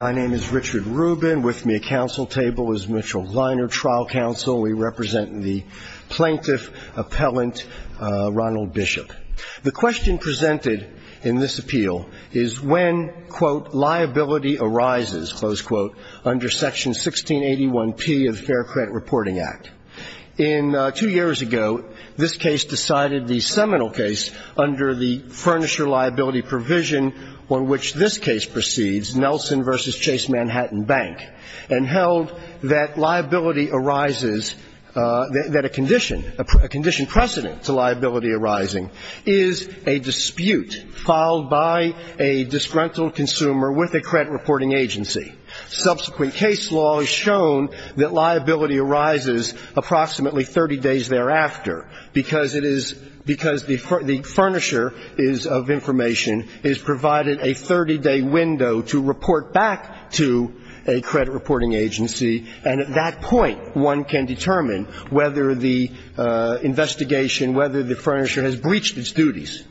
My name is Richard Rubin. With me at council table is Mitchell Leiner, trial counsel. We represent the plaintiff, appellant, Ronald Bishop. The question presented in this appeal is when, quote, liability arises, close quote, under section 1681P of the Fair Credit Reporting Act. In, two years ago, this case decided the seminal case under the Furnisher Liability Provision on which this case proceeds, Nelson v. Chase Manhattan Bank, and held that liability arises, that a condition, a condition precedent to liability arising is a dispute filed by a disgruntled consumer with a credit reporting agency. Subsequent case law has shown that liability arises approximately 30 days thereafter because it is, because the Furnisher is of information, is provided a 30-day window to report back to a credit reporting agency, and at that point, one can determine whether the investigation, whether the Furnisher has breached its duties.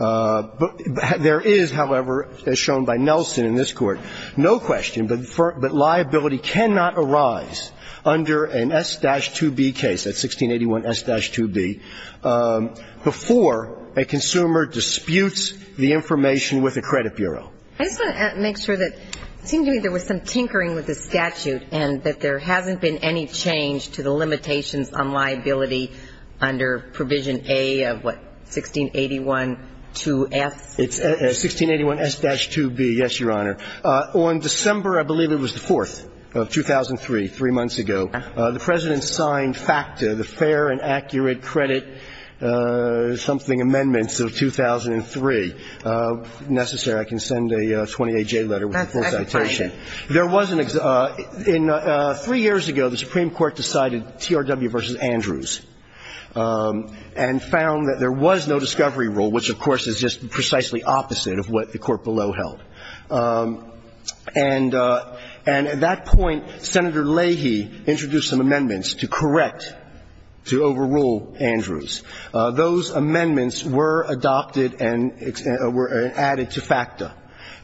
There is, however, as shown by Nelson in this court, no question, but liability cannot arise under an S-2B case, that's 1681S-2B, before a consumer disputes the information with a credit bureau. I just want to make sure that it seemed to me there was some tinkering with the statute and that there hasn't been any change to the limitations on liability under Provision A of what, 1681-2F? It's 1681S-2B, yes, Your Honor. On December, I believe it was the 4th of 2003, three months ago, the President signed FACTA, the Fair and Accurate Credit something amendments of 2003. If necessary, I can send a 28-J letter with the full citation. That's fine. There was an exact – in – three years ago, the Supreme Court decided TRW v. Andrews and found that there was no discovery rule, which, of course, is just precisely opposite of what the Court below held. And at that point, Senator Leahy introduced some amendments to correct, to overrule Andrews. Those amendments were adopted and added to FACTA.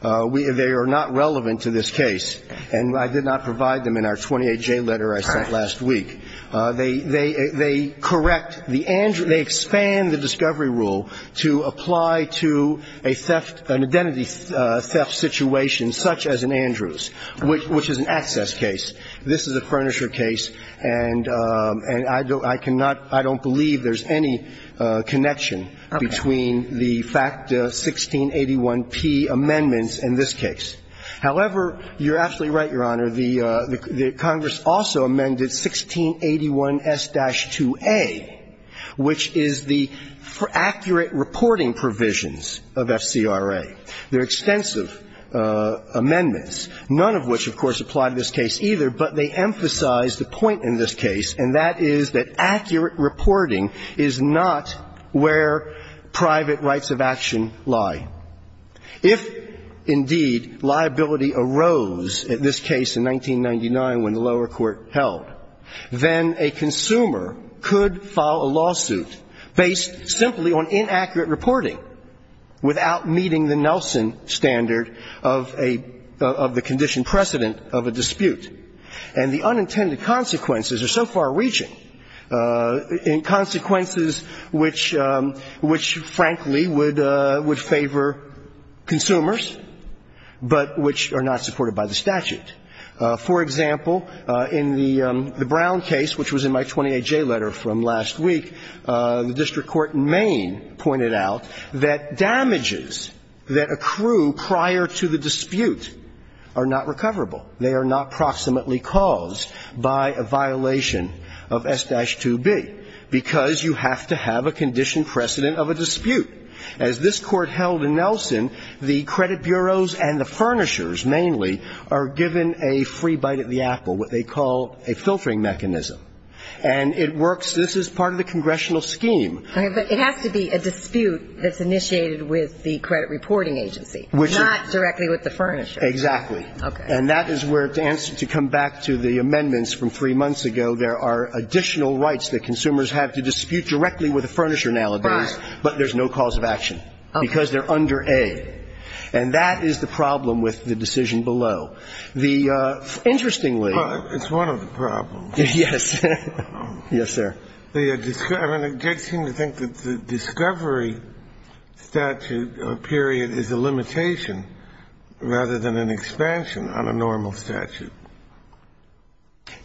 They are not relevant to this case. And I did not provide them in our 28-J letter I sent last week. They correct the Andrews – they expand the discovery rule to apply to a theft, an identity theft situation such as an Andrews, which is an access case. This is a Furnisher case. And I cannot – I don't believe there's any connection between the FACTA 1681P amendments in this case. However, you're absolutely right, Your Honor. The Congress also amended 1681S-2A, which is the accurate reporting provisions of FCRA. They're extensive amendments, none of which, of course, apply to this case either, but they emphasize the point in this case, and that is that accurate reporting is not where private rights of action lie. If, indeed, liability arose in this case in 1999 when the lower court held, then a consumer could file a lawsuit based simply on inaccurate reporting without meeting the Nelson standard of a – of the condition precedent of a dispute. And the unintended consequences are so far reaching, and consequences which – which, frankly, would – would favor consumers, but which are not supported by the statute. For example, in the Brown case, which was in my 28-J letter from last week, the district court in Maine pointed out that damages that accrue prior to the dispute are not recoverable. They are not proximately caused by a violation of S-2B because you have to have a condition precedent of a dispute. As this court held in Nelson, the credit bureaus and the furnishers mainly are given a free bite at the apple, what they call a filtering mechanism. And it works – this is part of the congressional scheme. But it has to be a dispute that's initiated with the credit reporting agency, not directly with the furnisher. Exactly. And that is where to answer – to come back to the amendments from three months ago, there are additional rights that consumers have to dispute directly with the furnisher nowadays. Right. But there's no cause of action because they're under A. And that is the problem with the decision below. The – interestingly – Well, it's one of the problems. Yes. Yes, sir. I mean, they seem to think that the discovery statute period is a limitation rather than an expansion on a normal statute.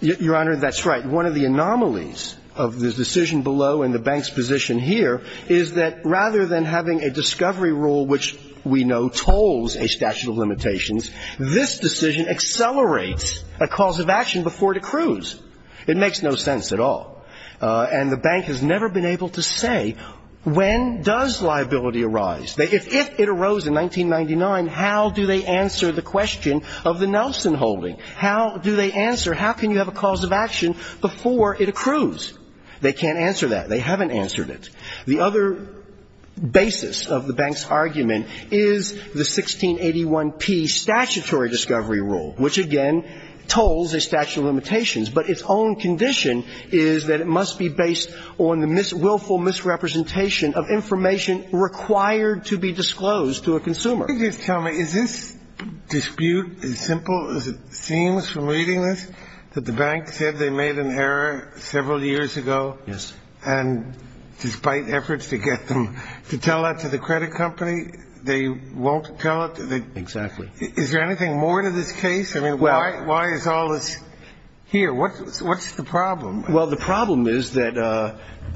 Your Honor, that's right. One of the anomalies of the decision below and the bank's position here is that rather than having a discovery rule which we know tolls a statute of limitations, this decision accelerates a cause of action before it accrues. It makes no sense at all. And the bank has never been able to say when does liability arise. If it arose in 1999, how do they answer the question of the Nelson holding? How do they answer – how can you have a cause of action before it accrues? They can't answer that. They haven't answered it. The other basis of the bank's argument is the 1681P statutory discovery rule, which, again, tolls a statute of limitations. But its own condition is that it must be based on the willful misrepresentation of information required to be disclosed to a consumer. Can you just tell me, is this dispute as simple as it seems from reading this, that the bank said they made an error several years ago? Yes. And despite efforts to get them to tell that to the credit company, they won't tell it? Exactly. Is there anything more to this case? I mean, why is all this here? What's the problem? Well, the problem is that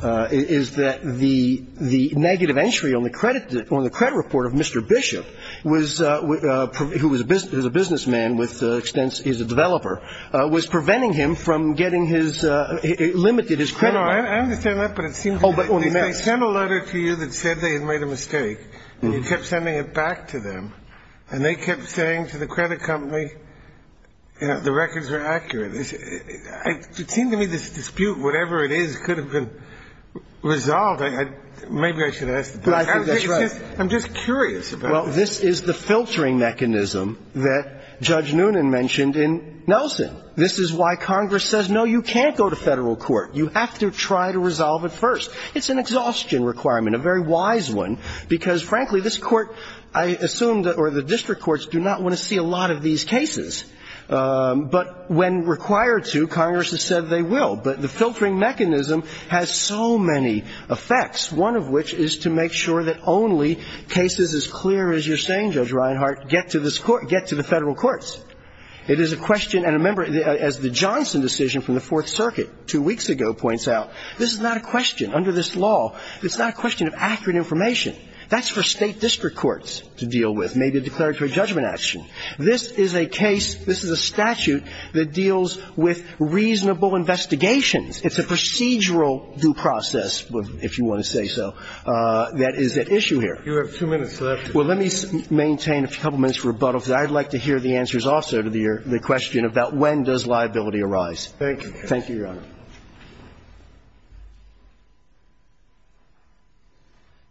the negative entry on the credit report of Mr. Bishop, who is a businessman with extensive – he's a developer, was preventing him from getting his – it limited his credit. I understand that, but it seems that if they sent a letter to you that said they had made a mistake and you kept sending it back to them and they kept saying to the credit company the records were accurate, it seemed to me this dispute, whatever it is, could have been resolved. Maybe I should ask the judge. But I think that's right. I'm just curious about it. Well, this is the filtering mechanism that Judge Noonan mentioned in Nelson. This is why Congress says, no, you can't go to federal court. You have to try to resolve it first. It's an exhaustion requirement, a very wise one, because, frankly, this Court, I assume, or the district courts, do not want to see a lot of these cases. But when required to, Congress has said they will. But the filtering mechanism has so many effects, one of which is to make sure that only cases as clear as you're saying, Judge Reinhart, get to the federal courts. It is a question – and remember, as the Johnson decision from the Fourth Circuit two weeks ago points out, this is not a question, under this law, it's not a question of accurate information. That's for state district courts to deal with, maybe a declaratory judgment action. This is a case, this is a statute that deals with reasonable investigations. It's a procedural due process, if you want to say so, that is at issue here. You have two minutes left. Well, let me maintain a couple minutes for rebuttal, because I'd like to hear the answers also to the question about when does liability arise. Thank you. Thank you, Your Honor.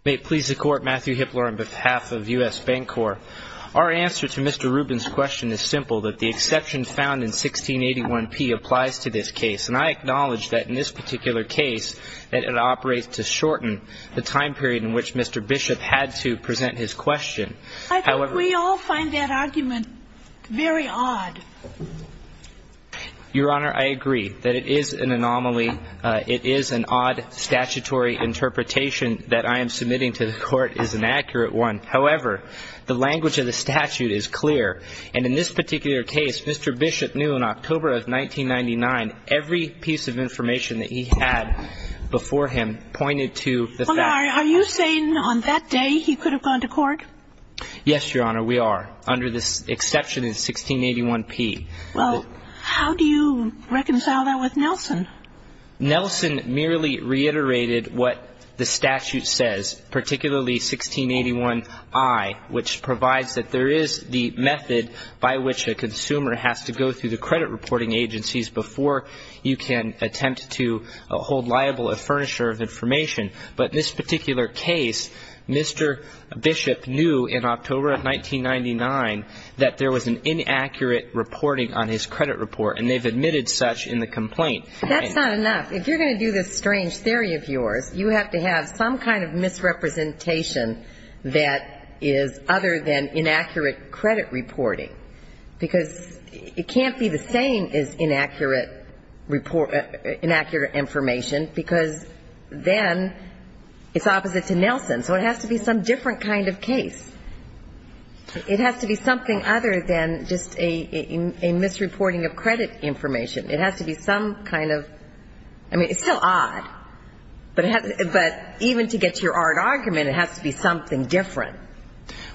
May it please the Court, Matthew Hipler on behalf of U.S. Bancorp. Our answer to Mr. Rubin's question is simple, that the exception found in 1681p applies to this case. And I acknowledge that in this particular case, that it operates to shorten the time period in which Mr. Bishop had to present his question. I think we all find that argument very odd. Your Honor, I agree that it is an anomaly. It is an odd statutory interpretation that I am submitting to the Court is an accurate one. However, the language of the statute is clear. And in this particular case, Mr. Bishop knew in October of 1999, every piece of information that he had before him pointed to the fact that he could have gone to court. Are you saying on that day he could have gone to court? Yes, Your Honor, we are. Under this exception in 1681p. Well, how do you reconcile that with Nelson? Nelson merely reiterated what the statute says, particularly 1681i, which provides that there is the method by which a consumer has to go through the credit reporting agencies before you can attempt to hold liable a furnisher of information. But in this particular case, Mr. Bishop knew in October of 1999 that there was an inaccurate reporting on his credit report. And they've admitted such in the complaint. That's not enough. If you're going to do this strange theory of yours, you have to have some kind of misrepresentation that is other than inaccurate credit reporting. Because it can't be the same as inaccurate report or inaccurate information, because then it's opposite to Nelson. So it has to be some different kind of case. It has to be something other than just a misreporting of credit information. It has to be some kind of – I mean, it's still odd. But even to get to your odd argument, it has to be something different.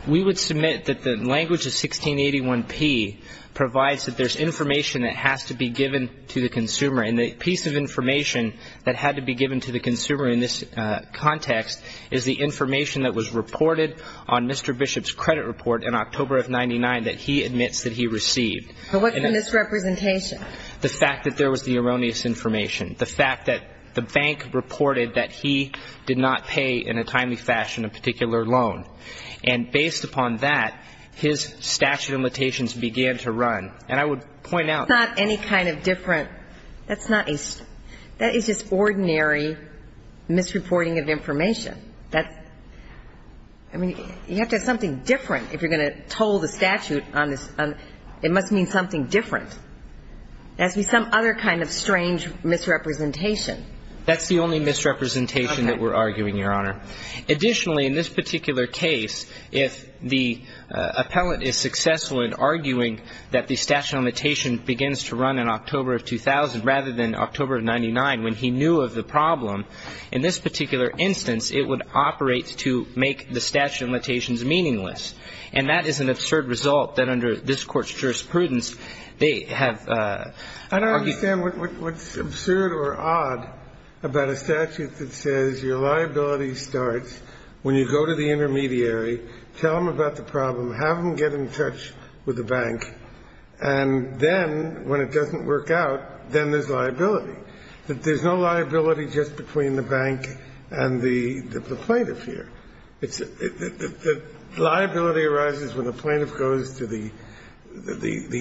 We would submit that the language of 1681p provides that there's information that has to be given to the consumer. And the piece of information that had to be given to the consumer in this context is the information that was reported on Mr. Bishop's credit report in October of 1999 that he admits that he received. But what's the misrepresentation? The fact that there was the erroneous information. The fact that the bank reported that he did not pay in a timely fashion a particular loan. And based upon that, his statute of limitations began to run. And I would point out – It's not any kind of different – that's not a – that is just ordinary misreporting of information. That's – I mean, you have to have something different if you're going to toll the statute on this. It must mean something different. It has to be some other kind of strange misrepresentation. That's the only misrepresentation that we're arguing, Your Honor. Additionally, in this particular case, if the appellant is successful in arguing that the statute of limitations begins to run in October of 2000 rather than October of 1999 when he knew of the problem, in this particular instance it would operate to make the statute of limitations meaningless. And that is an absurd result that under this Court's jurisprudence they have argued – when you go to the intermediary, tell them about the problem, have them get in touch with the bank, and then when it doesn't work out, then there's liability. There's no liability just between the bank and the plaintiff here. Liability arises when the plaintiff goes to the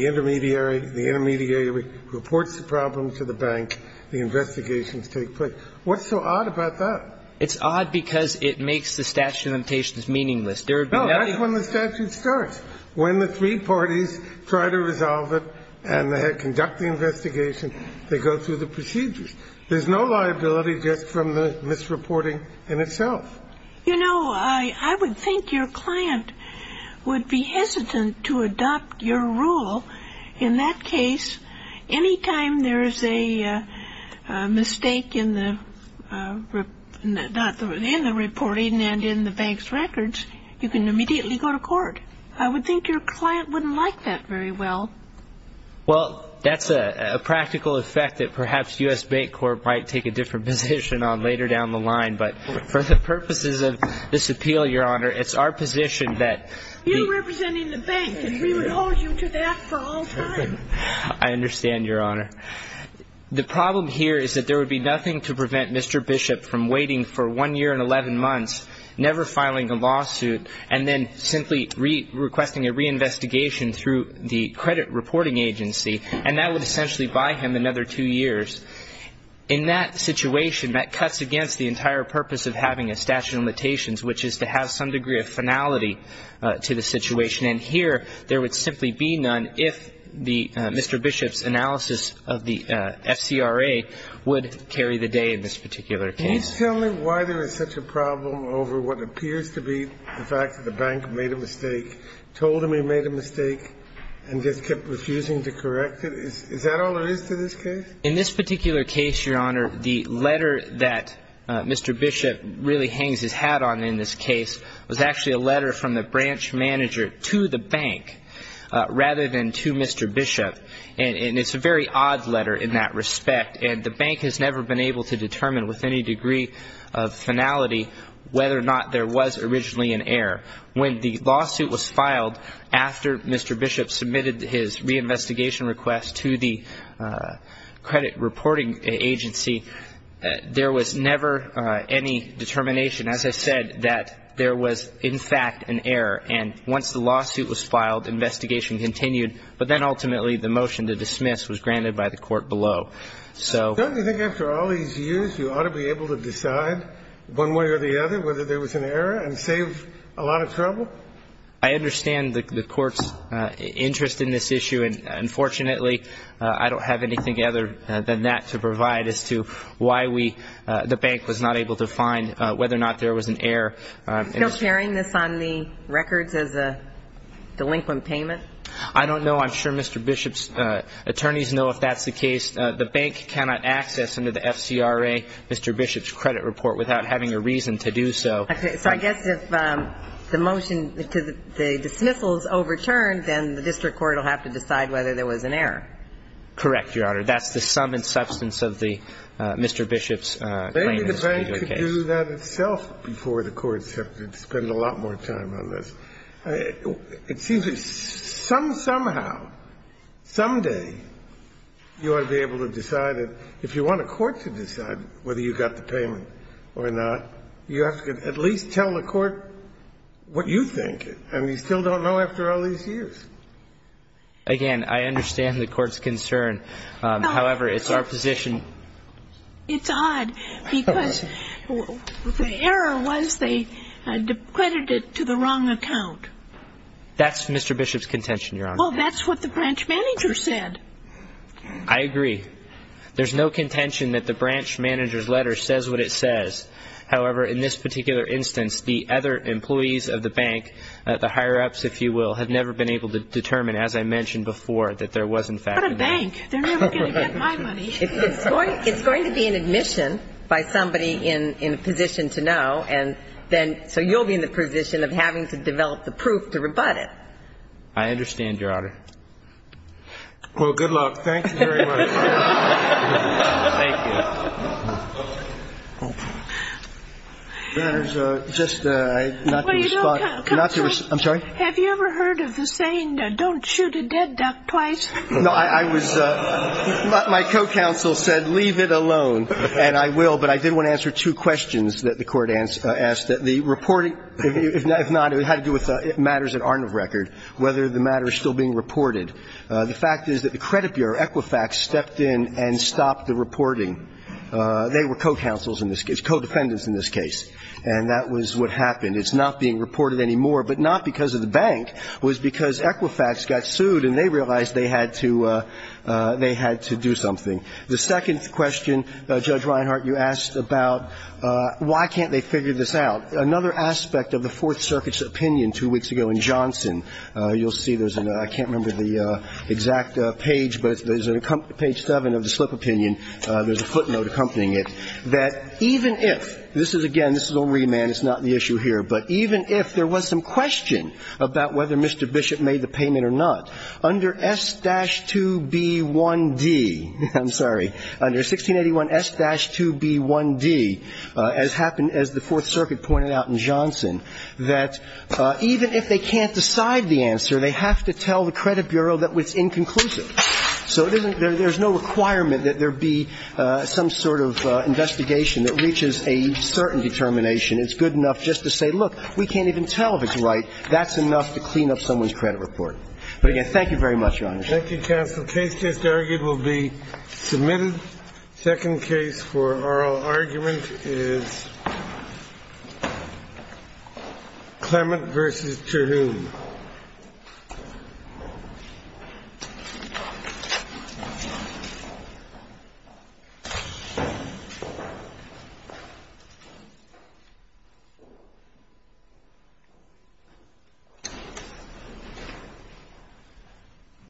intermediary, the intermediary reports the problem to the bank, the investigations take place. What's so odd about that? It's odd because it makes the statute of limitations meaningless. No, that's when the statute starts, when the three parties try to resolve it and they conduct the investigation, they go through the procedures. There's no liability just from the misreporting in itself. You know, I would think your client would be hesitant to adopt your rule in that case Any time there's a mistake in the reporting and in the bank's records, you can immediately go to court. I would think your client wouldn't like that very well. Well, that's a practical effect that perhaps U.S. Bank Corp. might take a different position on later down the line, but for the purposes of this appeal, Your Honor, it's our position that... You representing the bank, and we would hold you to that for all time. I understand, Your Honor. The problem here is that there would be nothing to prevent Mr. Bishop from waiting for one year and 11 months, never filing a lawsuit, and then simply requesting a reinvestigation through the credit reporting agency, and that would essentially buy him another two years. In that situation, that cuts against the entire purpose of having a statute of limitations, which is to have some degree of finality to the situation. And here, there would simply be none if Mr. Bishop's analysis of the FCRA would carry the day in this particular case. Can you tell me why there is such a problem over what appears to be the fact that the bank made a mistake, told him he made a mistake, and just kept refusing to correct it? Is that all there is to this case? In this particular case, Your Honor, the letter that Mr. Bishop really hangs his hat on in this case was actually a letter from the branch manager to the bank rather than to Mr. Bishop. And it's a very odd letter in that respect, and the bank has never been able to determine with any degree of finality whether or not there was originally an error. When the lawsuit was filed after Mr. Bishop submitted his reinvestigation request to the credit reporting agency, there was never any determination, as I said, that there was in fact an error. And once the lawsuit was filed, investigation continued. But then ultimately, the motion to dismiss was granted by the court below. So do you think after all these years, you ought to be able to decide one way or the other whether there was an error and save a lot of trouble? I understand the court's interest in this issue. Unfortunately, I don't have anything other than that to provide as to why the bank was not able to find whether or not there was an error. Are you still carrying this on the records as a delinquent payment? I don't know. I'm sure Mr. Bishop's attorneys know if that's the case. The bank cannot access under the FCRA Mr. Bishop's credit report without having a reason to do so. Okay. So I guess if the motion to the dismissal is overturned, then the district court will have to decide whether there was an error. Correct, Your Honor. That's the sum and substance of the Mr. Bishop's claim in this particular case. Maybe the bank could do that itself before the courts have to spend a lot more time on this. It seems that somehow, someday, you ought to be able to decide that if you want a court to decide whether you got the payment or not, you have to at least tell the court what you think, and you still don't know after all these years. Again, I understand the court's concern. However, it's our position. It's odd because the error was they credited it to the wrong account. That's Mr. Bishop's contention, Your Honor. Well, that's what the branch manager said. I agree. There's no contention that the branch manager's letter says what it says. However, in this particular instance, the other employees of the bank, the higher-ups, if you will, have never been able to determine, as I mentioned before, that there was in fact a bank. What a bank. They're never going to get my money. It's going to be an admission by somebody in a position to know, and then so you'll be in the position of having to develop the proof to rebut it. I understand, Your Honor. Well, good luck. Thank you very much. Thank you. Your Honor, just not to respond. I'm sorry? Have you ever heard of the saying, don't shoot a dead duck twice? No, I was my co-counsel said, leave it alone, and I will. But I did want to answer two questions that the Court asked. The reporting, if not, it had to do with matters that aren't of record, whether the matter is still being reported. The fact is that the credit bureau, Equifax, stepped in and stopped the reporting. They were co-counsels in this case, co-defendants in this case, and that was what happened. It's not being reported anymore, but not because of the bank. It was because Equifax got sued and they realized they had to do something. The second question, Judge Reinhart, you asked about why can't they figure this out. Another aspect of the Fourth Circuit's opinion two weeks ago in Johnson. You'll see there's a – I can't remember the exact page, but there's a – page 7 of the slip opinion. There's a footnote accompanying it, that even if – this is, again, this is old remand. It's not the issue here. But even if there was some question about whether Mr. Bishop made the payment or not, under S-2B1D – I'm sorry. Under 1681 S-2B1D, as happened – as the Fourth Circuit pointed out in Johnson, that even if they can't decide the answer, they have to tell the credit bureau that it's inconclusive. So it isn't – there's no requirement that there be some sort of investigation that reaches a certain determination. It's good enough just to say, look, we can't even tell if it's right. That's enough to clean up someone's credit report. Thank you, counsel. Case just argued will be submitted. Second case for oral argument is Clement v. Turnoon.